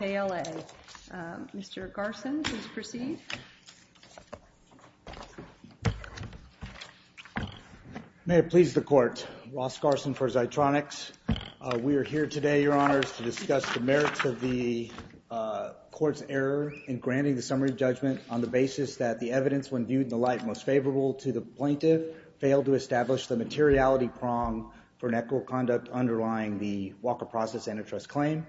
KLA. Mr. Garson, please proceed. May it please the Court. Ross Garson for Zitronix. We are here today, Your Honors, to discuss the merits of the Court's error in granting the summary judgment on the basis that the evidence, when viewed in the light most favorable to the plaintiff, failed to establish the materiality prong for an equitable conduct underlying the Walker Process Antitrust Claim.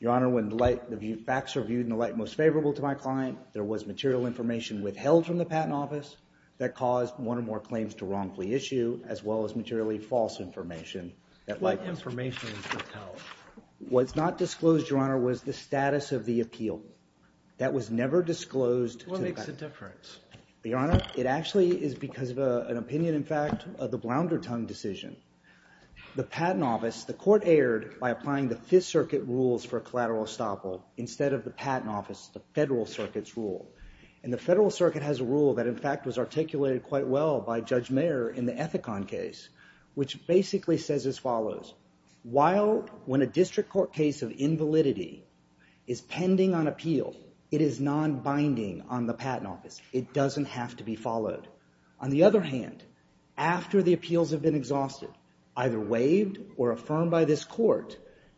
Your Honor, when facts are viewed in the light most favorable to my client, there was material information withheld from the Patent Office that caused one or more claims to wrongfully issue, as well as materially false information. What information was withheld? What's not disclosed, Your Honor, was the status of the appeal. That was never disclosed. What makes a difference? Your Honor, it actually is because of an opinion, in fact, of the Blounderton decision. The Patent Office, the Court erred by applying the Fifth Circuit rules for collateral estoppel instead of the Patent Office, the Federal Circuit's rule. And the Federal Circuit has a rule that, in fact, was articulated quite well by Judge Mayer in the Ethicon case, which basically says as follows. While when a district court case of invalidity is pending on appeal, it is non-binding on the Patent Office. It doesn't have to be followed. On the other hand, after the appeals have been confirmed by this court,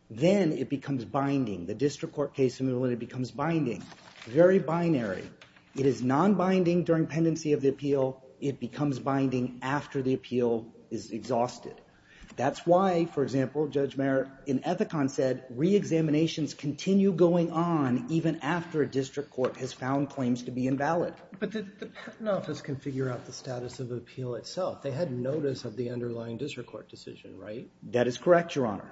then it becomes binding. The district court case of invalidity becomes binding, very binary. It is non-binding during pendency of the appeal. It becomes binding after the appeal is exhausted. That's why, for example, Judge Mayer in Ethicon said re-examinations continue going on even after a district court has found claims to be invalid. But the Patent Office can figure out the status of appeal itself. They had notice of the underlying district court decision, right? That is correct, Your Honor.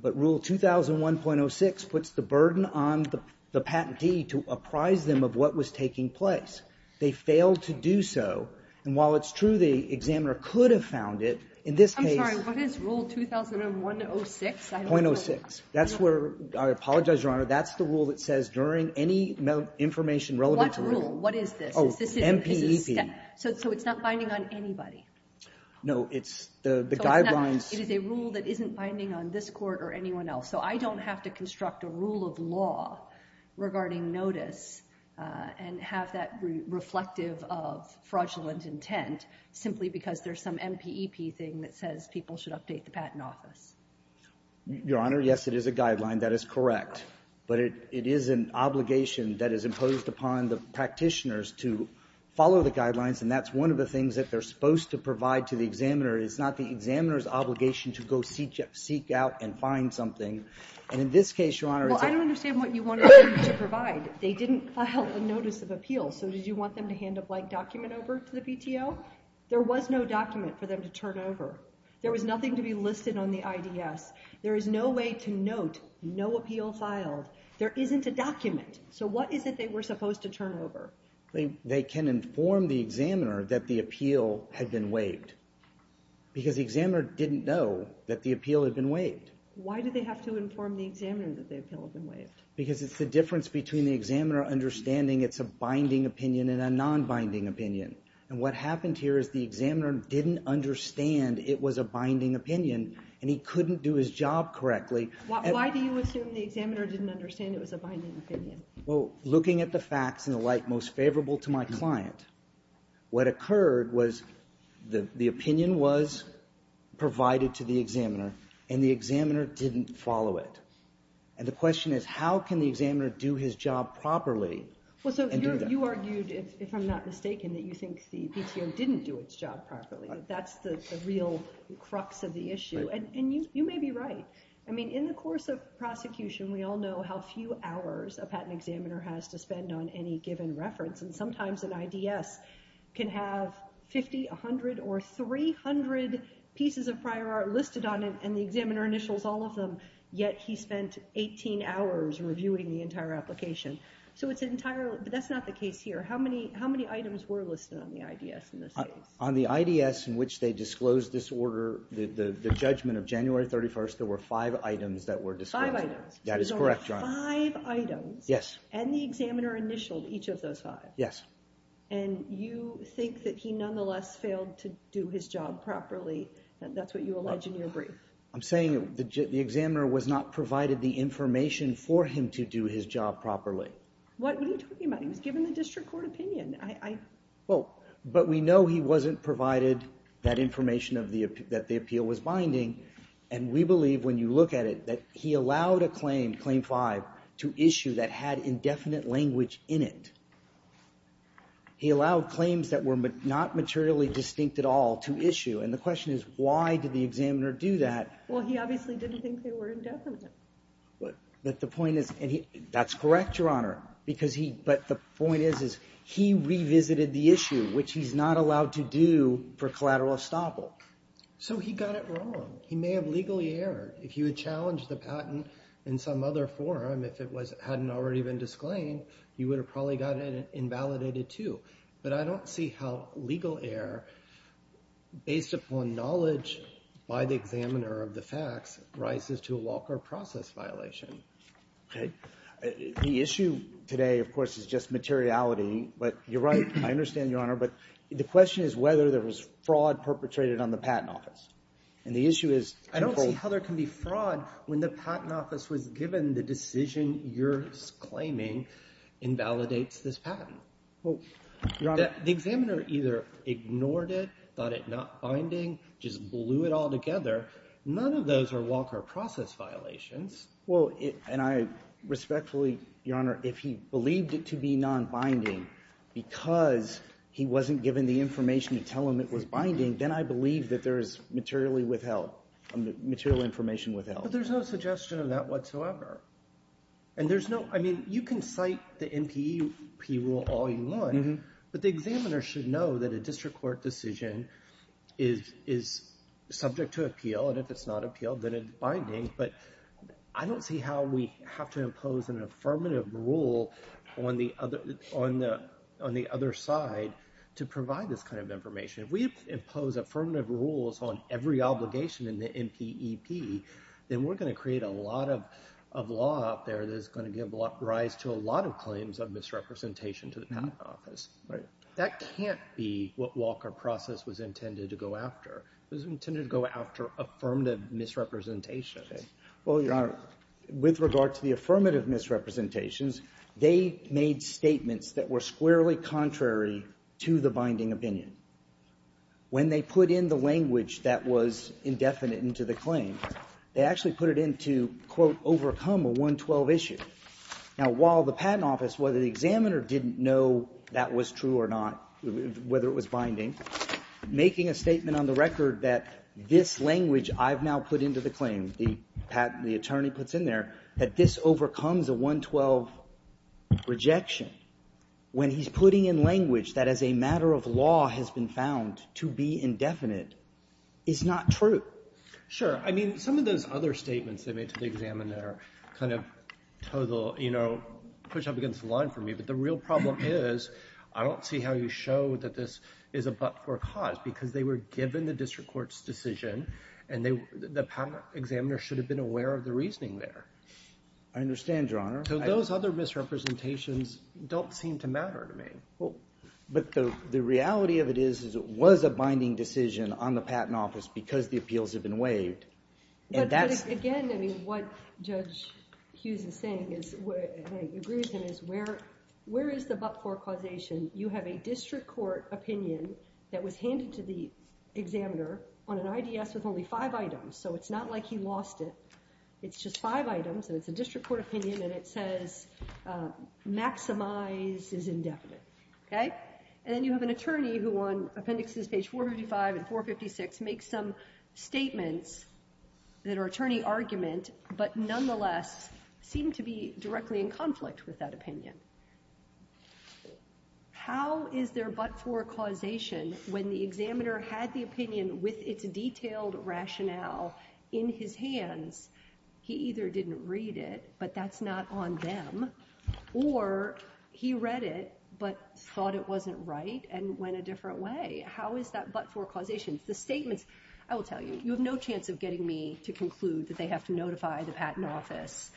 But Rule 2001.06 puts the burden on the patentee to apprise them of what was taking place. They failed to do so. And while it's true the examiner could have found it, in this case... I'm sorry, what is Rule 2001.06? .06. That's where, I apologize, Your Honor, that's the rule that says during any information relevant to... What rule? What is this? MPEP. So it's not binding on anybody? No, it's the guidelines... It is a rule that isn't binding on this court or anyone else. So I don't have to construct a rule of law regarding notice and have that reflective of fraudulent intent simply because there's some MPEP thing that says people should update the Patent Office. Your Honor, yes, it is a guideline. That is correct. But it is an obligation to follow the guidelines. And that's one of the things that they're supposed to provide to the examiner. It's not the examiner's obligation to go seek out and find something. And in this case, Your Honor... Well, I don't understand what you wanted them to provide. They didn't file a notice of appeal. So did you want them to hand a blank document over to the PTO? There was no document for them to turn over. There was nothing to be listed on the IDS. There is no way to note no appeal filed. There isn't a document. So what is it they were supposed to turn over? They can inform the examiner that the appeal had been waived because the examiner didn't know that the appeal had been waived. Why did they have to inform the examiner that the appeal had been waived? Because it's the difference between the examiner understanding it's a binding opinion and a non-binding opinion. And what happened here is the examiner didn't understand it was a binding opinion and he couldn't do his job correctly. Why do you assume the examiner didn't understand it was a binding opinion? Well, looking at the facts and the like most favorable to my client, what occurred was the opinion was provided to the examiner and the examiner didn't follow it. And the question is how can the examiner do his job properly? Well, so you argued, if I'm not mistaken, that you think the PTO didn't do its job properly. That's the real crux of the issue. And you may be right. I mean, in the course of prosecution, we all know how few hours a patent examiner has to spend on any given reference. And sometimes an IDS can have 50, 100, or 300 pieces of prior art listed on it and the examiner initials all of them, yet he spent 18 hours reviewing the entire application. But that's not the case here. How many items were listed on the IDS in this case? On the IDS in which they disclosed this order, the judgment of January 31st, there were five items that were disclosed. Five items? That is correct, Your Honor. Five items? Yes. And the examiner initialed each of those five? Yes. And you think that he nonetheless failed to do his job properly? That's what you allege in your brief? I'm saying the examiner was not provided the information for him to do his job properly. What are you talking about? He was given the district court opinion. Well, but we know he wasn't provided that information that the appeal was binding. And we believe, when you look at it, that he allowed a claim, Claim 5, to issue that had indefinite language in it. He allowed claims that were not materially distinct at all to issue. And the question is, why did the examiner do that? Well, he obviously didn't think they were indefinite. But the point is, and that's correct, Your Honor. But the point is, he revisited the issue, which he's not allowed to do for collateral estoppel. So he got it wrong. He may have legally erred. If you had challenged the patent in some other forum, if it hadn't already been disclaimed, you would have probably gotten it invalidated too. But I don't see how legal error, based upon knowledge by the examiner of the facts, rises to a law court process violation. Okay. The issue today, of course, is just materiality. But you're right. I understand, Your Honor. But the question is whether there was fraud perpetrated on the Patent Office. And the issue is, I don't see how there can be fraud when the Patent Office was given the decision you're claiming invalidates this patent. Well, Your Honor, the examiner either ignored it, thought it not binding, just blew it all together. None of those are law court process violations. Well, and I respectfully, Your Honor, if he believed it to be nonbinding because he wasn't given the information to tell him it was binding, then I believe that there is material information withheld. But there's no suggestion of that whatsoever. And there's no, I mean, you can cite the NPEP rule all you want. But the examiner should know that a district court decision is subject to appeal. And if it's not appealed, then it's binding. But I don't see how we have to impose an affirmative rule on the other side to provide this kind of information. If we impose affirmative rules on every obligation in the NPEP, then we're going to create a lot of law out there that is going to give rise to a lot of claims of misrepresentation to the Patent Office. That can't be what Walker process was intended to go after. It was intended to go after affirmative misrepresentation. Well, Your Honor, with regard to the affirmative misrepresentations, they made statements that were squarely contrary to the binding opinion. When they put in the language that was indefinite into the claim, they actually put it in to, quote, overcome a 112 issue. Now, while the Patent Office, whether the examiner didn't know that was true or not, whether it was binding, making a statement on the record that this language I've now put into the claim, the attorney puts in there, that this overcomes a 112 rejection when he's putting in language that as a matter of law has been found to be indefinite is not true. Sure. I mean, some of those other statements they made to the examiner kind of push up against the line for me. But the real problem is I don't see how you show that this is a but-for cause because they were given the district court's decision and the patent examiner should have been aware of the reasoning there. I understand, Your Honor. So those other misrepresentations don't seem to matter to me. But the reality of it is it was a binding decision on the Patent Office because the appeals have been waived. Again, I mean, what Judge Hughes is saying is, and I agree with him, is where is the but-for causation? You have a district court opinion that was handed to the examiner on an IDS with only five items. So it's not like he lost it. It's just five items, and it's a district court opinion, and it says maximize is indefinite. OK? And then you have an attorney who on appendixes page 455 and 456 makes some statements that how is there a but-for causation when the examiner had the opinion with its detailed rationale in his hands? He either didn't read it, but that's not on them, or he read it but thought it wasn't right and went a different way. How is that but-for causation? The statements, I will tell you, you have no chance of getting me to conclude that they have to notify the Patent Office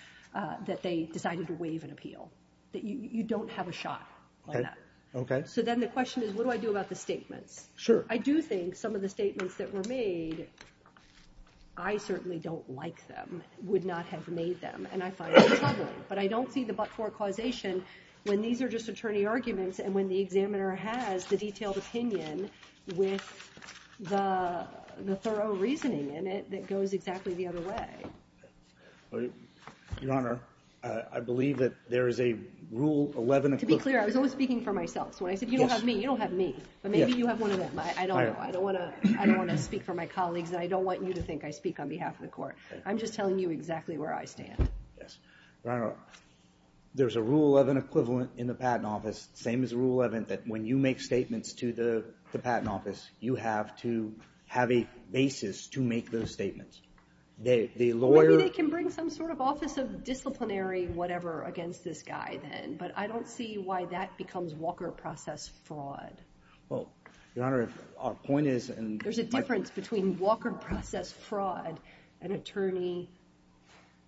that they decided to waive an appeal, that you don't have a shot on that. OK. So then the question is, what do I do about the statements? Sure. I do think some of the statements that were made, I certainly don't like them, would not have made them, and I find that troubling. But I don't see the but-for causation when these are just attorney arguments and when the examiner has the detailed opinion with the thorough reasoning in it that goes exactly the other way. Your Honor, I believe that there is a Rule 11 equivalent. To be clear, I was only speaking for myself. So when I said you don't have me, you don't have me. But maybe you have one of them. I don't know. I don't want to speak for my colleagues, and I don't want you to think I speak on behalf of the court. I'm just telling you exactly where I stand. Yes. Your Honor, there's a Rule 11 equivalent in the Patent Office, same as Rule 11, that when you make statements to the Patent Office, you have to have a basis to make those statements. The lawyer- Maybe they can bring some sort of Office of Disciplinary whatever against this guy then. But I don't see why that becomes Walker process fraud. Well, Your Honor, our point is- There's a difference between Walker process fraud and attorney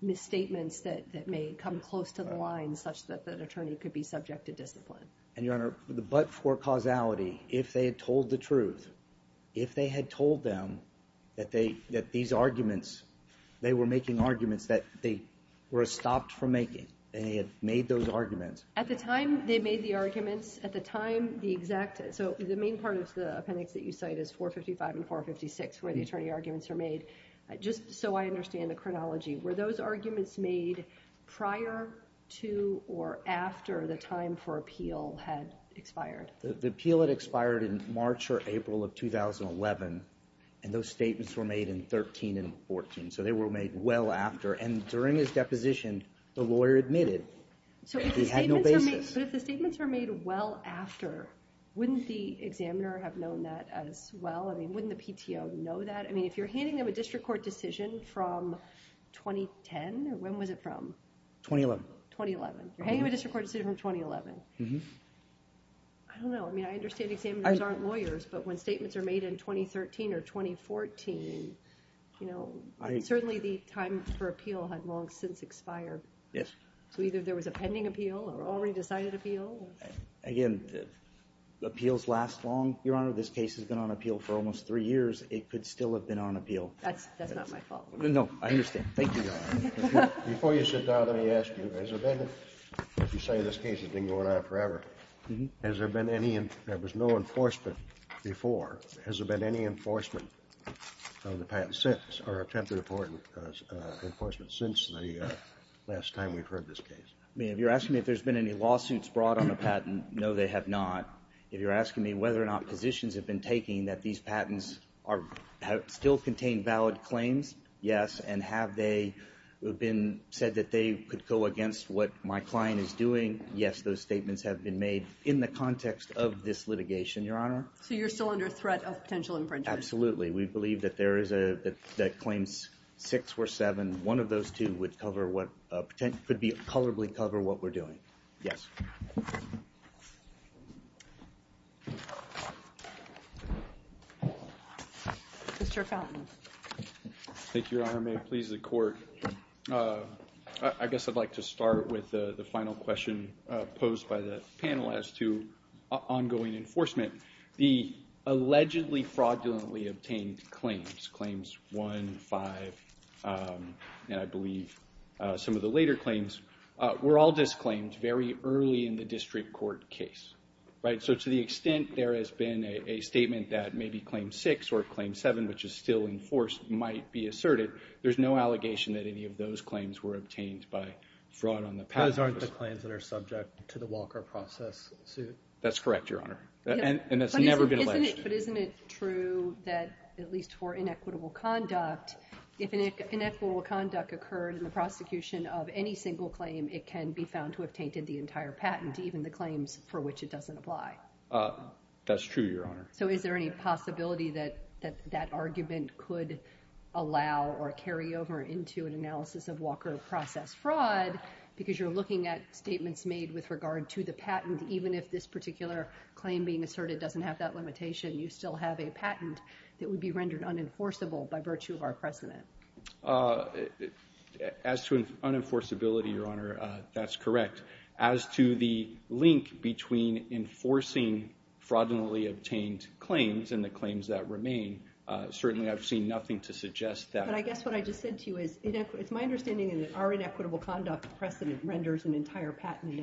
misstatements that may come close to the line such that the attorney could be subject to discipline. And Your Honor, the but-for causality, if they had told the truth, if they had told them that these arguments, they were making arguments that they were stopped from making, and they had made those arguments- At the time they made the arguments, at the time the exact- So the main part of the appendix that you cite is 455 and 456, where the attorney arguments are made. Just so I understand the chronology, were those arguments made prior to or after the time for appeal had expired? The appeal had expired in March or April of 2011, and those statements were made in 13 and 14. So they were made well after. And during his deposition, the lawyer admitted he had no basis. But if the statements were made well after, wouldn't the examiner have known that as well? I mean, wouldn't the PTO know that? I mean, if you're handing them a district court decision from 2010, when was it from? 2011. 2011. You're handing them a district court decision from 2011. I don't know. I mean, I understand examiners aren't lawyers. But when statements are made in 2013 or 2014, you know, certainly the time for appeal had long since expired. Yes. So either there was a pending appeal or already decided appeal? Again, appeals last long. Your Honor, this case has been on appeal for almost three years. It could still have been on appeal. That's not my fault. No, I understand. Thank you, Your Honor. Before you sit down, let me ask you. If you say this case has been going on forever, there was no enforcement before. Has there been any enforcement of the patent since or attempted enforcement since the last time we've heard this case? I mean, if you're asking me if there's been any lawsuits brought on the patent, no, they have not. If you're asking me whether or not positions have been taken that these patents still contain valid claims, yes. And have they been said that they could go against what my client is doing? Yes, those statements have been made in the context of this litigation, Your Honor. So you're still under threat of potential infringement? Absolutely. We believe that there is a that claims six or seven. One of those two would cover what could be colorably cover what we're doing. Yes. Mr. Fountain. Thank you, Your Honor. May it please the court. I guess I'd like to start with the final question posed by the panel as to ongoing enforcement. The allegedly fraudulently obtained claims, claims one, five, and I believe some of the later claims, were all disclaimed very early in the district court case, right? So to the extent there has been a statement that maybe claim six or claim seven, which is still in force, might be asserted. There's no allegation that any of those claims were obtained by fraud on the patent. Those aren't the claims that are subject to the Walker process suit. That's correct, Your Honor. And that's never been alleged. But isn't it true that at least for inequitable conduct, if an inequitable conduct occurred in the prosecution of any single claim, it can be found to have tainted the entire patent, even the claims for which it doesn't apply. That's true, Your Honor. So is there any possibility that that argument could allow or carry over into an analysis of Walker process fraud? Because you're looking at statements made with regard to the patent, even if this particular claim being asserted doesn't have that limitation, you still have a patent that would be rendered unenforceable by virtue of our precedent. As to unenforceability, Your Honor, that's correct. As to the link between enforcing fraudulently obtained claims and the claims that remain, certainly I've seen nothing to suggest that. But I guess what I just said to you is, it's my understanding that our inequitable conduct precedent renders an entire patent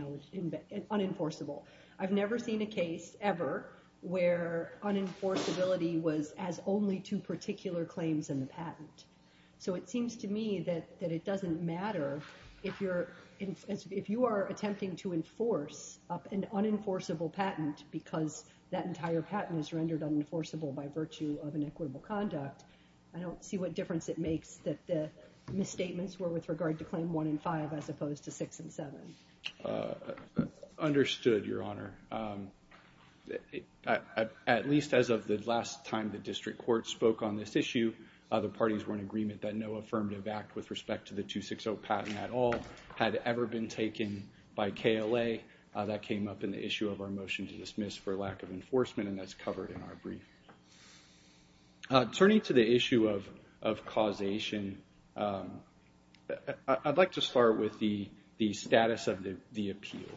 unenforceable. I've never seen a case ever where unenforceability was as only two particular claims in the patent. So it seems to me that it doesn't matter if you are attempting to enforce an unenforceable patent because that entire patent is rendered unenforceable by virtue of inequitable conduct. I don't see what difference it makes that the misstatements were with regard to Claim 1 and 5 as opposed to 6 and 7. Understood, Your Honor. At least as of the last time the district court spoke on this issue, the parties were in agreement that no affirmative act with respect to the 260 patent at all had ever been taken by KLA. That came up in the issue of our motion to dismiss for lack of enforcement, and that's covered in our brief. Turning to the issue of causation, I'd like to start with the status of the appeal.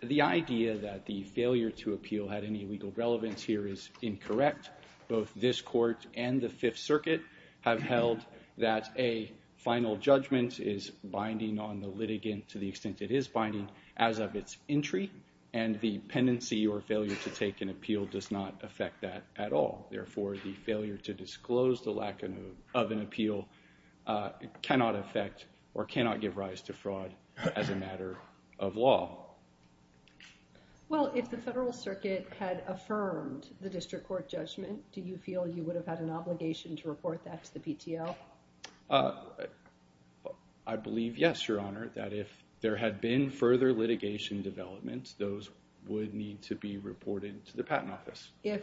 The idea that the failure to appeal had any legal relevance here is incorrect. Both this court and the Fifth Circuit have held that a final judgment is binding on the litigant to the extent it is binding as of its entry, and the pendency or failure to take an appeal does not affect that at all. Therefore, the failure to disclose the lack of an appeal cannot affect or cannot give rise to fraud as a matter of law. Well, if the Federal Circuit had affirmed the district court judgment, do you feel you would have had an obligation to report that to the PTO? I believe, yes, Your Honor, that if there had been further litigation developments, those would need to be reported to the Patent Office. If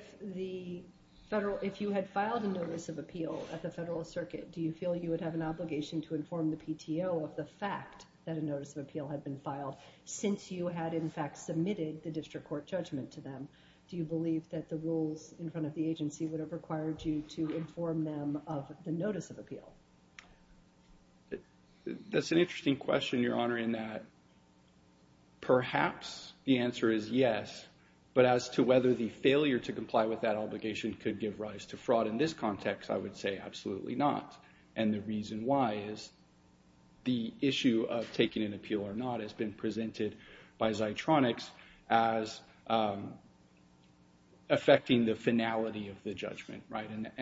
you had filed a notice of appeal at the Federal Circuit, do you feel you would have an obligation to inform the PTO of the fact that a notice of appeal had been filed since you had, in fact, submitted the district court judgment to them? Do you believe that the rules in front of the agency would have required you to inform them of the notice of appeal? That's an interesting question, Your Honor, in that perhaps the answer is yes, but as to whether the failure to comply with that obligation could give rise to fraud in this context, I would say absolutely not. The reason why is the issue of taking an appeal or not has been presented by Zitronix as affecting the finality of the judgment.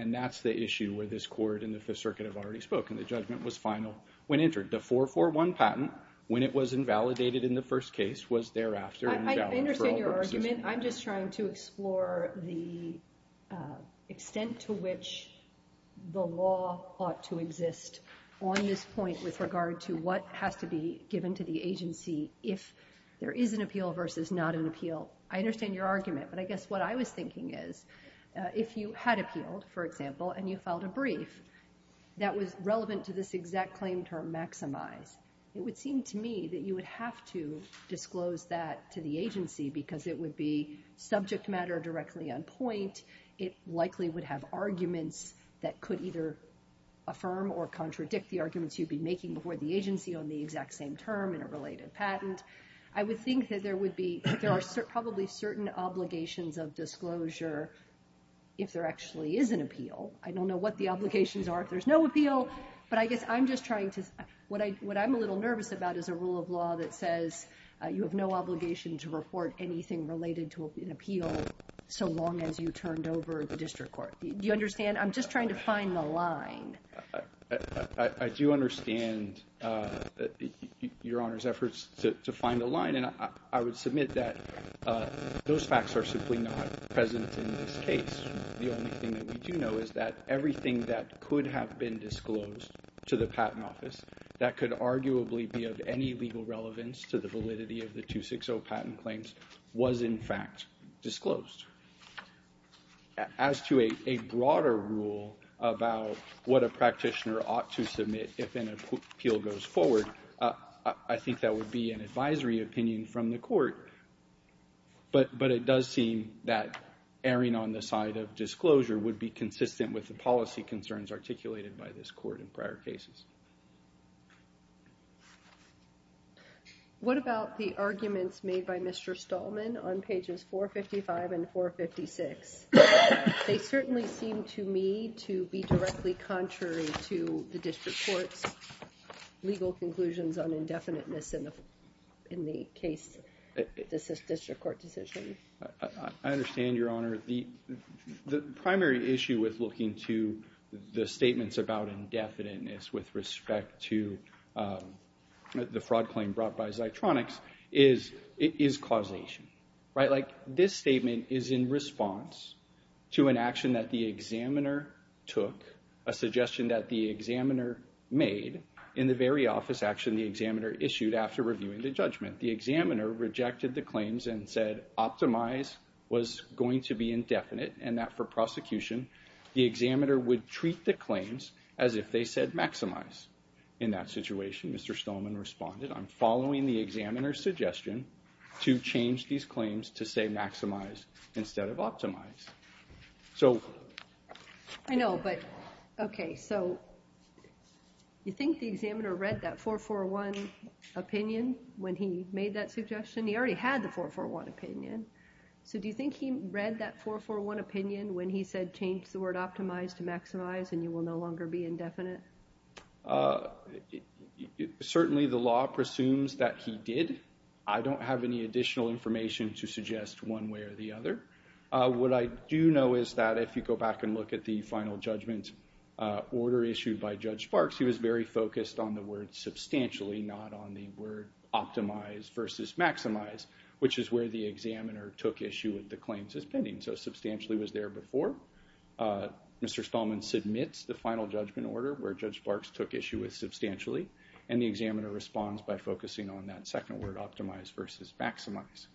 That's the issue where this Court and the Fifth Circuit have already spoken. The judgment was final when entered. The 441 patent, when it was invalidated in the first case, was thereafter invalid for all purposes. I'm just trying to explore the extent to which the law ought to exist on this point with regard to what has to be given to the agency if there is an appeal versus not an appeal. I understand your argument, but I guess what I was thinking is if you had appealed, for example, and you filed a brief that was relevant to this exact claim term, maximize, it would be subject matter directly on point. It likely would have arguments that could either affirm or contradict the arguments you'd be making before the agency on the exact same term in a related patent. I would think that there are probably certain obligations of disclosure if there actually is an appeal. I don't know what the obligations are if there's no appeal, but I guess what I'm a little nervous about is a rule of law that says you have no obligation to report anything related to an appeal so long as you turned over the district court. Do you understand? I'm just trying to find the line. I do understand your Honor's efforts to find the line, and I would submit that those facts are simply not present in this case. The only thing that we do know is that everything that could have been disclosed to the Patent Office that could arguably be of any legal relevance to the validity of the 260 patent claims was in fact disclosed. As to a broader rule about what a practitioner ought to submit if an appeal goes forward, I think that would be an advisory opinion from the court, but it does seem that erring on the side of disclosure would be consistent with the policy concerns articulated by this court in prior cases. What about the arguments made by Mr. Stallman on pages 455 and 456? They certainly seem to me to be directly contrary to the district court's legal conclusions on indefiniteness in the case, this district court decision. I understand your Honor. The primary issue with looking to the statements about indefiniteness with respect to the fraud claim brought by Zitronix is causation. This statement is in response to an action that the examiner took, a suggestion that the examiner made in the very office action the examiner issued after reviewing the judgment. The examiner rejected the claims and said optimize was going to be indefinite and that for prosecution, the examiner would treat the claims as if they said maximize. In that situation, Mr. Stallman responded, I'm following the examiner's suggestion to change these claims to say maximize instead of optimize. So I know, but okay, so you think the examiner read that 4-4-1 opinion when he made that suggestion? He already had the 4-4-1 opinion. So do you think he read that 4-4-1 opinion when he said change the word optimize to maximize and you will no longer be indefinite? Certainly the law presumes that he did. I don't have any additional information to suggest one way or the other. What I do know is that if you go back and look at the final judgment order issued by Judge Sparks, he was very focused on the word substantially, not on the word optimize versus maximize, which is where the examiner took issue with the claims as pending. So substantially was there before. Mr. Stallman submits the final judgment order where Judge Sparks took issue with substantially and the examiner responds by focusing on that second word, optimize versus maximize.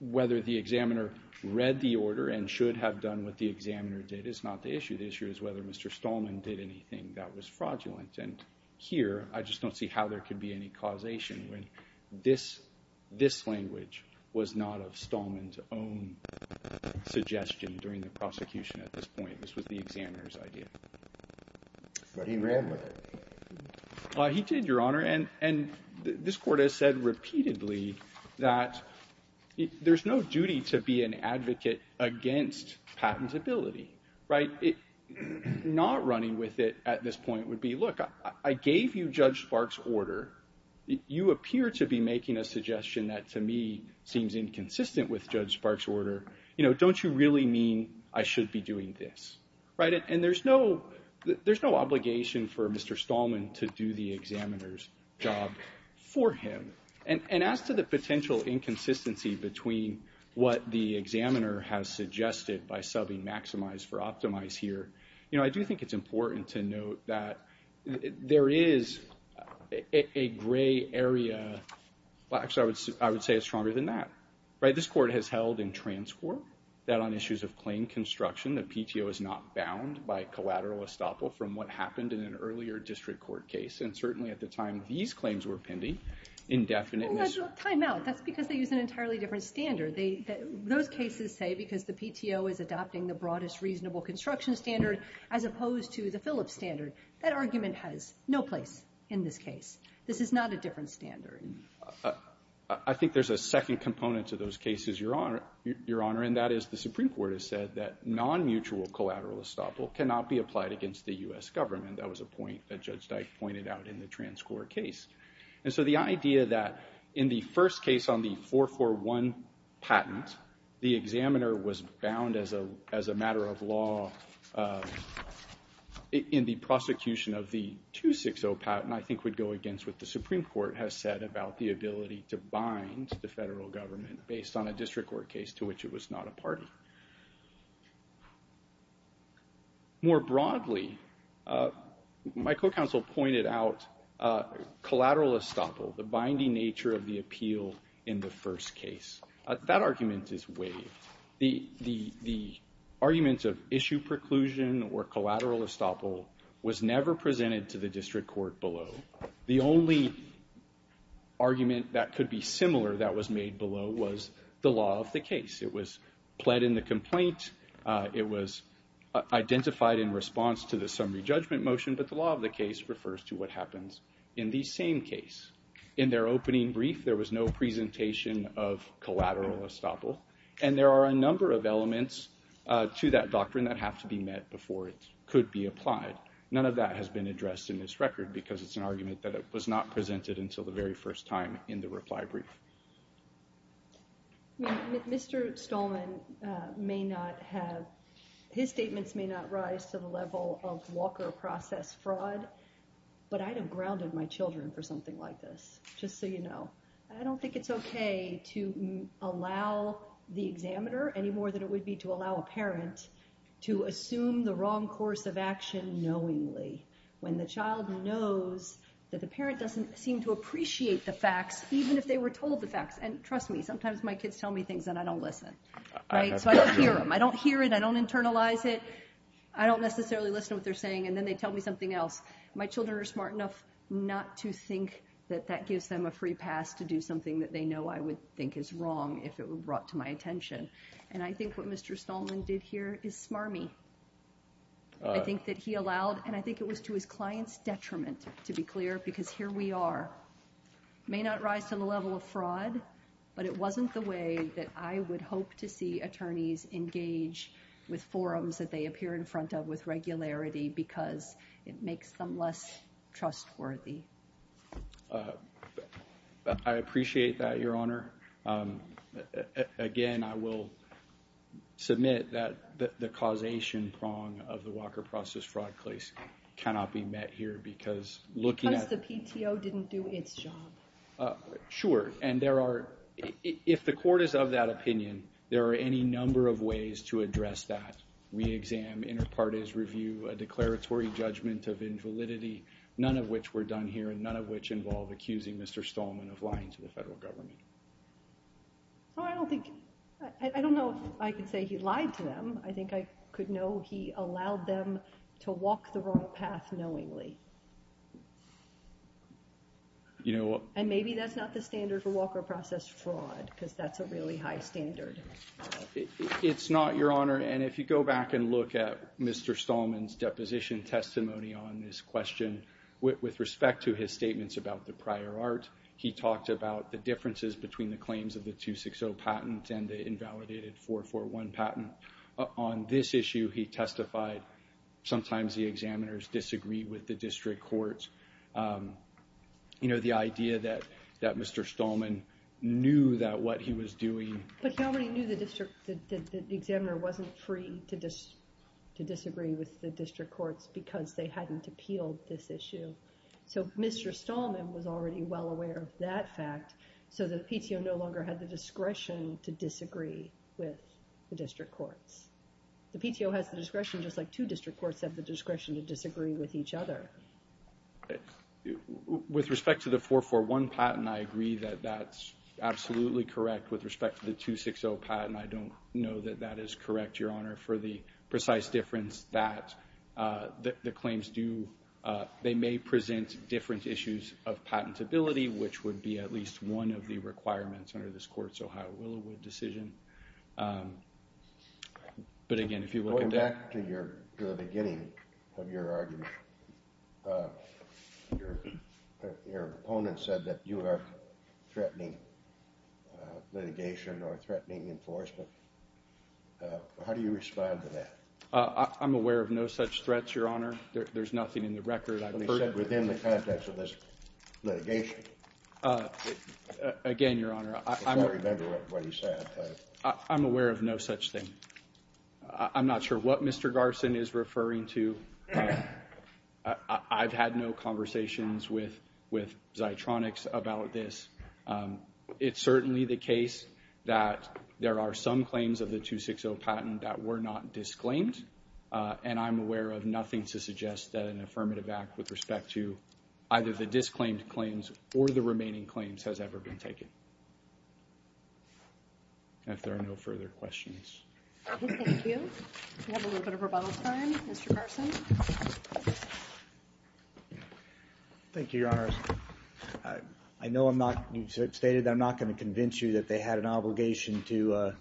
Whether the examiner read the order and should have done what the examiner did is not the issue. The issue is whether Mr. Stallman did anything that was fraudulent. And here, I just don't see how there could be any causation when this language was not of Stallman's own suggestion during the prosecution at this point. This was the examiner's idea. But he ran with it. Well, he did, Your Honor, and this court has said repeatedly that there's no duty to be an advocate against patentability, right? Not running with it at this point would be, look, I gave you Judge Sparks' order. You appear to be making a suggestion that, to me, seems inconsistent with Judge Sparks' order. You know, don't you really mean I should be doing this, right? And there's no obligation for Mr. Stallman to do the examiner's job for him. And as to the potential inconsistency between what the examiner has suggested by subbing maximize for optimize here, you know, I do think it's important to note that there is a gray area, well, actually, I would say it's stronger than that, right? This court has held in transcourt that on issues of claim construction, the PTO is not bound by collateral estoppel from what happened in an earlier district court case. And certainly at the time these claims were pending, indefinite mis- Time out. That's because they use an entirely different standard. Those cases say because the PTO is adopting the broadest reasonable construction standard as opposed to the Phillips standard. That argument has no place in this case. This is not a different standard. I think there's a second component to those cases, Your Honor, and that is the Supreme Court has said that non-mutual collateral estoppel cannot be applied against the U.S. government. That was a point that Judge Dyke pointed out in the transcourt case. And so the idea that in the first case on the 441 patent, the examiner was bound as a matter of law in the prosecution of the 260 patent, I think would go against what the Supreme Court has said about the ability to bind the federal government based on a district court case to which it was not a party. More broadly, my co-counsel pointed out collateral estoppel, the binding nature of the appeal in the first case. That argument is waived. The argument of issue preclusion or collateral estoppel was never presented to the district court below. The only argument that could be similar that was made below was the law of the case. It was pled in the complaint. It was identified in response to the summary judgment motion. But the law of the case refers to what happens in the same case. In their opening brief, there was no presentation of collateral estoppel. And there are a number of elements to that doctrine that have to be met before it could be applied. None of that has been addressed in this record because it's an argument that it was not presented until the very first time in the reply brief. Mr. Stallman may not have, his statements may not rise to the level of Walker process fraud, but I'd have grounded my children for something like this, just so you know. I don't think it's okay to allow the examiner any more than it would be to allow a parent to assume the wrong course of action knowingly when the child knows that the parent doesn't seem to appreciate the facts, even if they were told the facts. And trust me, sometimes my kids tell me things that I don't listen. So I don't hear them. I don't hear it. I don't internalize it. I don't necessarily listen to what they're saying. And then they tell me something else. My children are smart enough not to think that that gives them a free pass to do something that they know I would think is wrong if it were brought to my attention. And I think what Mr. Stallman did here is smarmy. I think that he allowed, and I think it was to his clients detriment, to be clear, because here we are may not rise to the level of fraud, but it wasn't the way that I would hope to see attorneys engage with forums that they appear in front of with regularity because it makes them less trustworthy. I appreciate that, Your Honor. Again, I will submit that the causation prong of the Walker Process Fraud case cannot be met here because looking at- Because the PTO didn't do its job. Sure. And there are, if the court is of that opinion, there are any number of ways to address that. Re-exam, inter partes review, a declaratory judgment of invalidity, none of which were done here, and none of which involve accusing Mr. Stallman of lying to the federal government. Well, I don't think, I don't know if I could say he lied to them. I think I could know he allowed them to walk the wrong path knowingly. And maybe that's not the standard for Walker Process Fraud because that's a really high standard. It's not, Your Honor. And if you go back and look at Mr. Stallman's deposition testimony on this question with respect to his statements about the prior art, he talked about the differences between the claims of the 260 patent and the invalidated 441 patent. On this issue, he testified sometimes the examiners disagree with the district courts. You know, the idea that Mr. Stallman knew that what he was doing- But he already knew the examiner wasn't free to disagree with the district courts because they hadn't appealed this issue. So Mr. Stallman was already well aware of that fact. So the PTO no longer had the discretion to disagree with the district courts. The PTO has the discretion just like two district courts have the discretion to disagree with each other. With respect to the 441 patent, I agree that that's absolutely correct. With respect to the 260 patent, I don't know that that is correct, Your Honor, for the precise difference that the claims do. They may present different issues of patentability, which would be at least one of the requirements under this court's Ohio Willowood decision. But again, if you look at that- Going back to the beginning of your argument, your opponent said that you are threatening litigation or threatening enforcement. How do you respond to that? I'm aware of no such threats, Your Honor. There's nothing in the record. I've heard that within the context of this litigation. Again, Your Honor, I'm- I can't remember what he said. I'm aware of no such thing. I'm not sure what Mr. Garson is referring to. I've had no conversations with Zeitronics about this. It's certainly the case that there are some claims of the 260 patent that were not disclaimed, and I'm aware of nothing to suggest that an affirmative act with respect to either the disclaimed claims or the remaining claims has ever been taken. If there are no further questions. Thank you. We have a little bit of rebuttal time. Mr. Garson. Thank you, Your Honor. I know I'm not- You stated that I'm not going to convince you that they had an obligation to I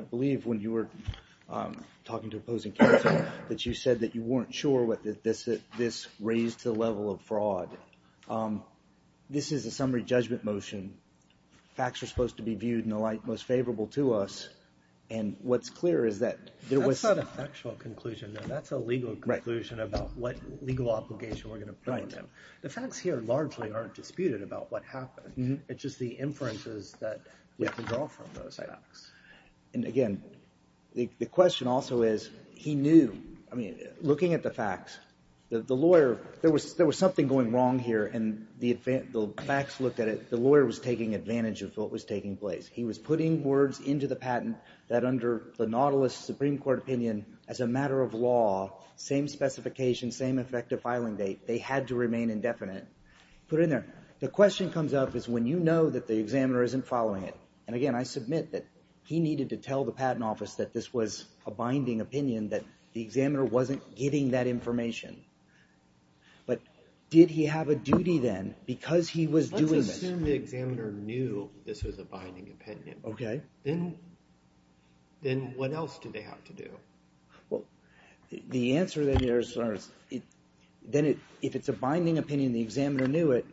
believe when you were talking to opposing counsel, that you said that you weren't sure that this raised the level of fraud. This is a summary judgment motion. Facts are supposed to be viewed in the light most favorable to us. And what's clear is that there was- That's not a factual conclusion. That's a legal conclusion about what legal obligation we're going to put on them. The facts here largely aren't disputed about what happened. It's just the inferences that we can draw from those facts. And again, the question also is, he knew. I mean, looking at the facts, the lawyer, there was something going wrong here. And the facts looked at it. The lawyer was taking advantage of what was taking place. He was putting words into the patent that under the Nautilus Supreme Court opinion, as a matter of law, same specification, same effective filing date, they had to remain indefinite. Put it in there. The question comes up is when you know that the examiner isn't following it. And again, I submit that he needed to tell the patent office that this was a binding opinion, that the examiner wasn't getting that information. But did he have a duty then because he was doing this? Let's assume the examiner knew this was a binding opinion. Okay. Then what else do they have to do? Well, the answer there is, then if it's a binding opinion, the examiner knew it,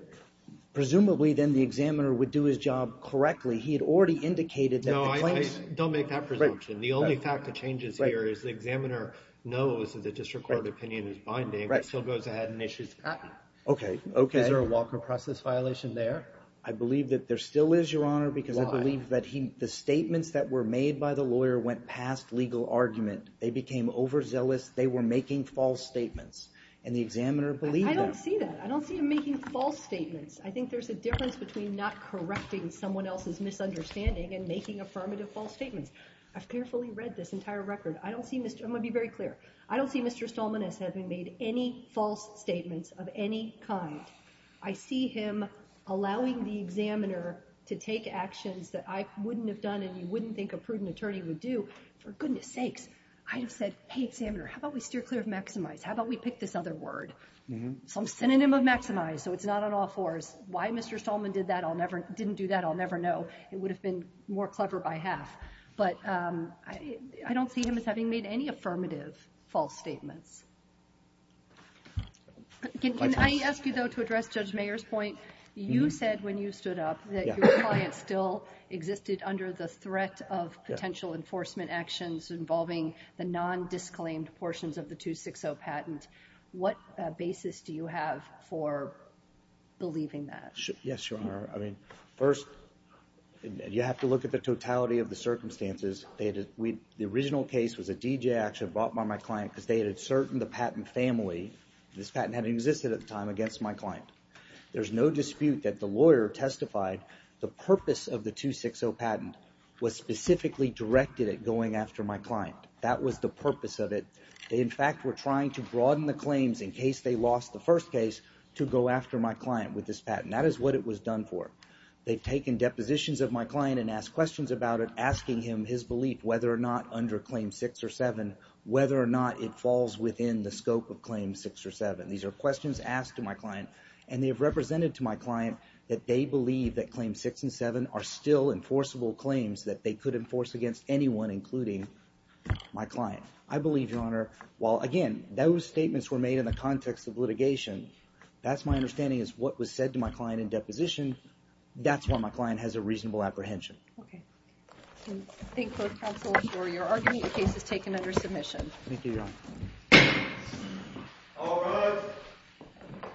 presumably then the examiner would do his job correctly. He had already indicated that the claims- Don't make that presumption. The only fact that changes here is the examiner knows that the district court opinion is binding, but still goes ahead and issues the patent. Okay, okay. Is there a Walker process violation there? I believe that there still is, Your Honor, because I believe that the statements that were made by the lawyer went past legal argument. They became overzealous. They were making false statements. And the examiner believed that. I don't see that. I don't see him making false statements. I think there's a difference between not correcting someone else's misunderstanding and making affirmative false statements. I've carefully read this entire record. I don't see Mr- I'm going to be very clear. I don't see Mr. Stallman as having made any false statements of any kind. I see him allowing the examiner to take actions that I wouldn't have done and you wouldn't think a prudent attorney would do. For goodness sakes, I'd have said, hey, examiner, how about we steer clear of maximize? How about we pick this other word? Some synonym of maximize so it's not an all fours. Why Mr. Stallman did that, didn't do that, I'll never know. It would have been more clever by half. But I don't see him as having made any affirmative false statements. Can I ask you, though, to address Judge Mayer's point? You said when you stood up that your client still existed under the threat of potential enforcement actions involving the non-disclaimed portions of the 260 patent. What basis do you have for believing that? Yes, Your Honor, I mean, first, you have to look at the totality of the circumstances. The original case was a DGA action brought by my client because they had asserted the patent family, this patent hadn't existed at the time, against my client. There's no dispute that the lawyer testified the purpose of the 260 patent was specifically directed at going after my client. That was the purpose of it. They, in fact, were trying to broaden the claims in case they lost the first case to go after my client with this patent. That is what it was done for. They've taken depositions of my client and asked questions about it, asking him his belief whether or not under Claim 6 or 7, whether or not it falls within the scope of Claim 6 or 7. These are questions asked to my client, and they have represented to my client that they believe that Claim 6 and 7 are still enforceable claims that they could enforce against anyone, including my client. I believe, Your Honor, while, again, those statements were made in the context of litigation, that's my understanding is what was said to my client in deposition. That's why my client has a reasonable apprehension. Okay. Thank both counsels for your argument. The case is taken under submission. Thank you, Your Honor. All rise.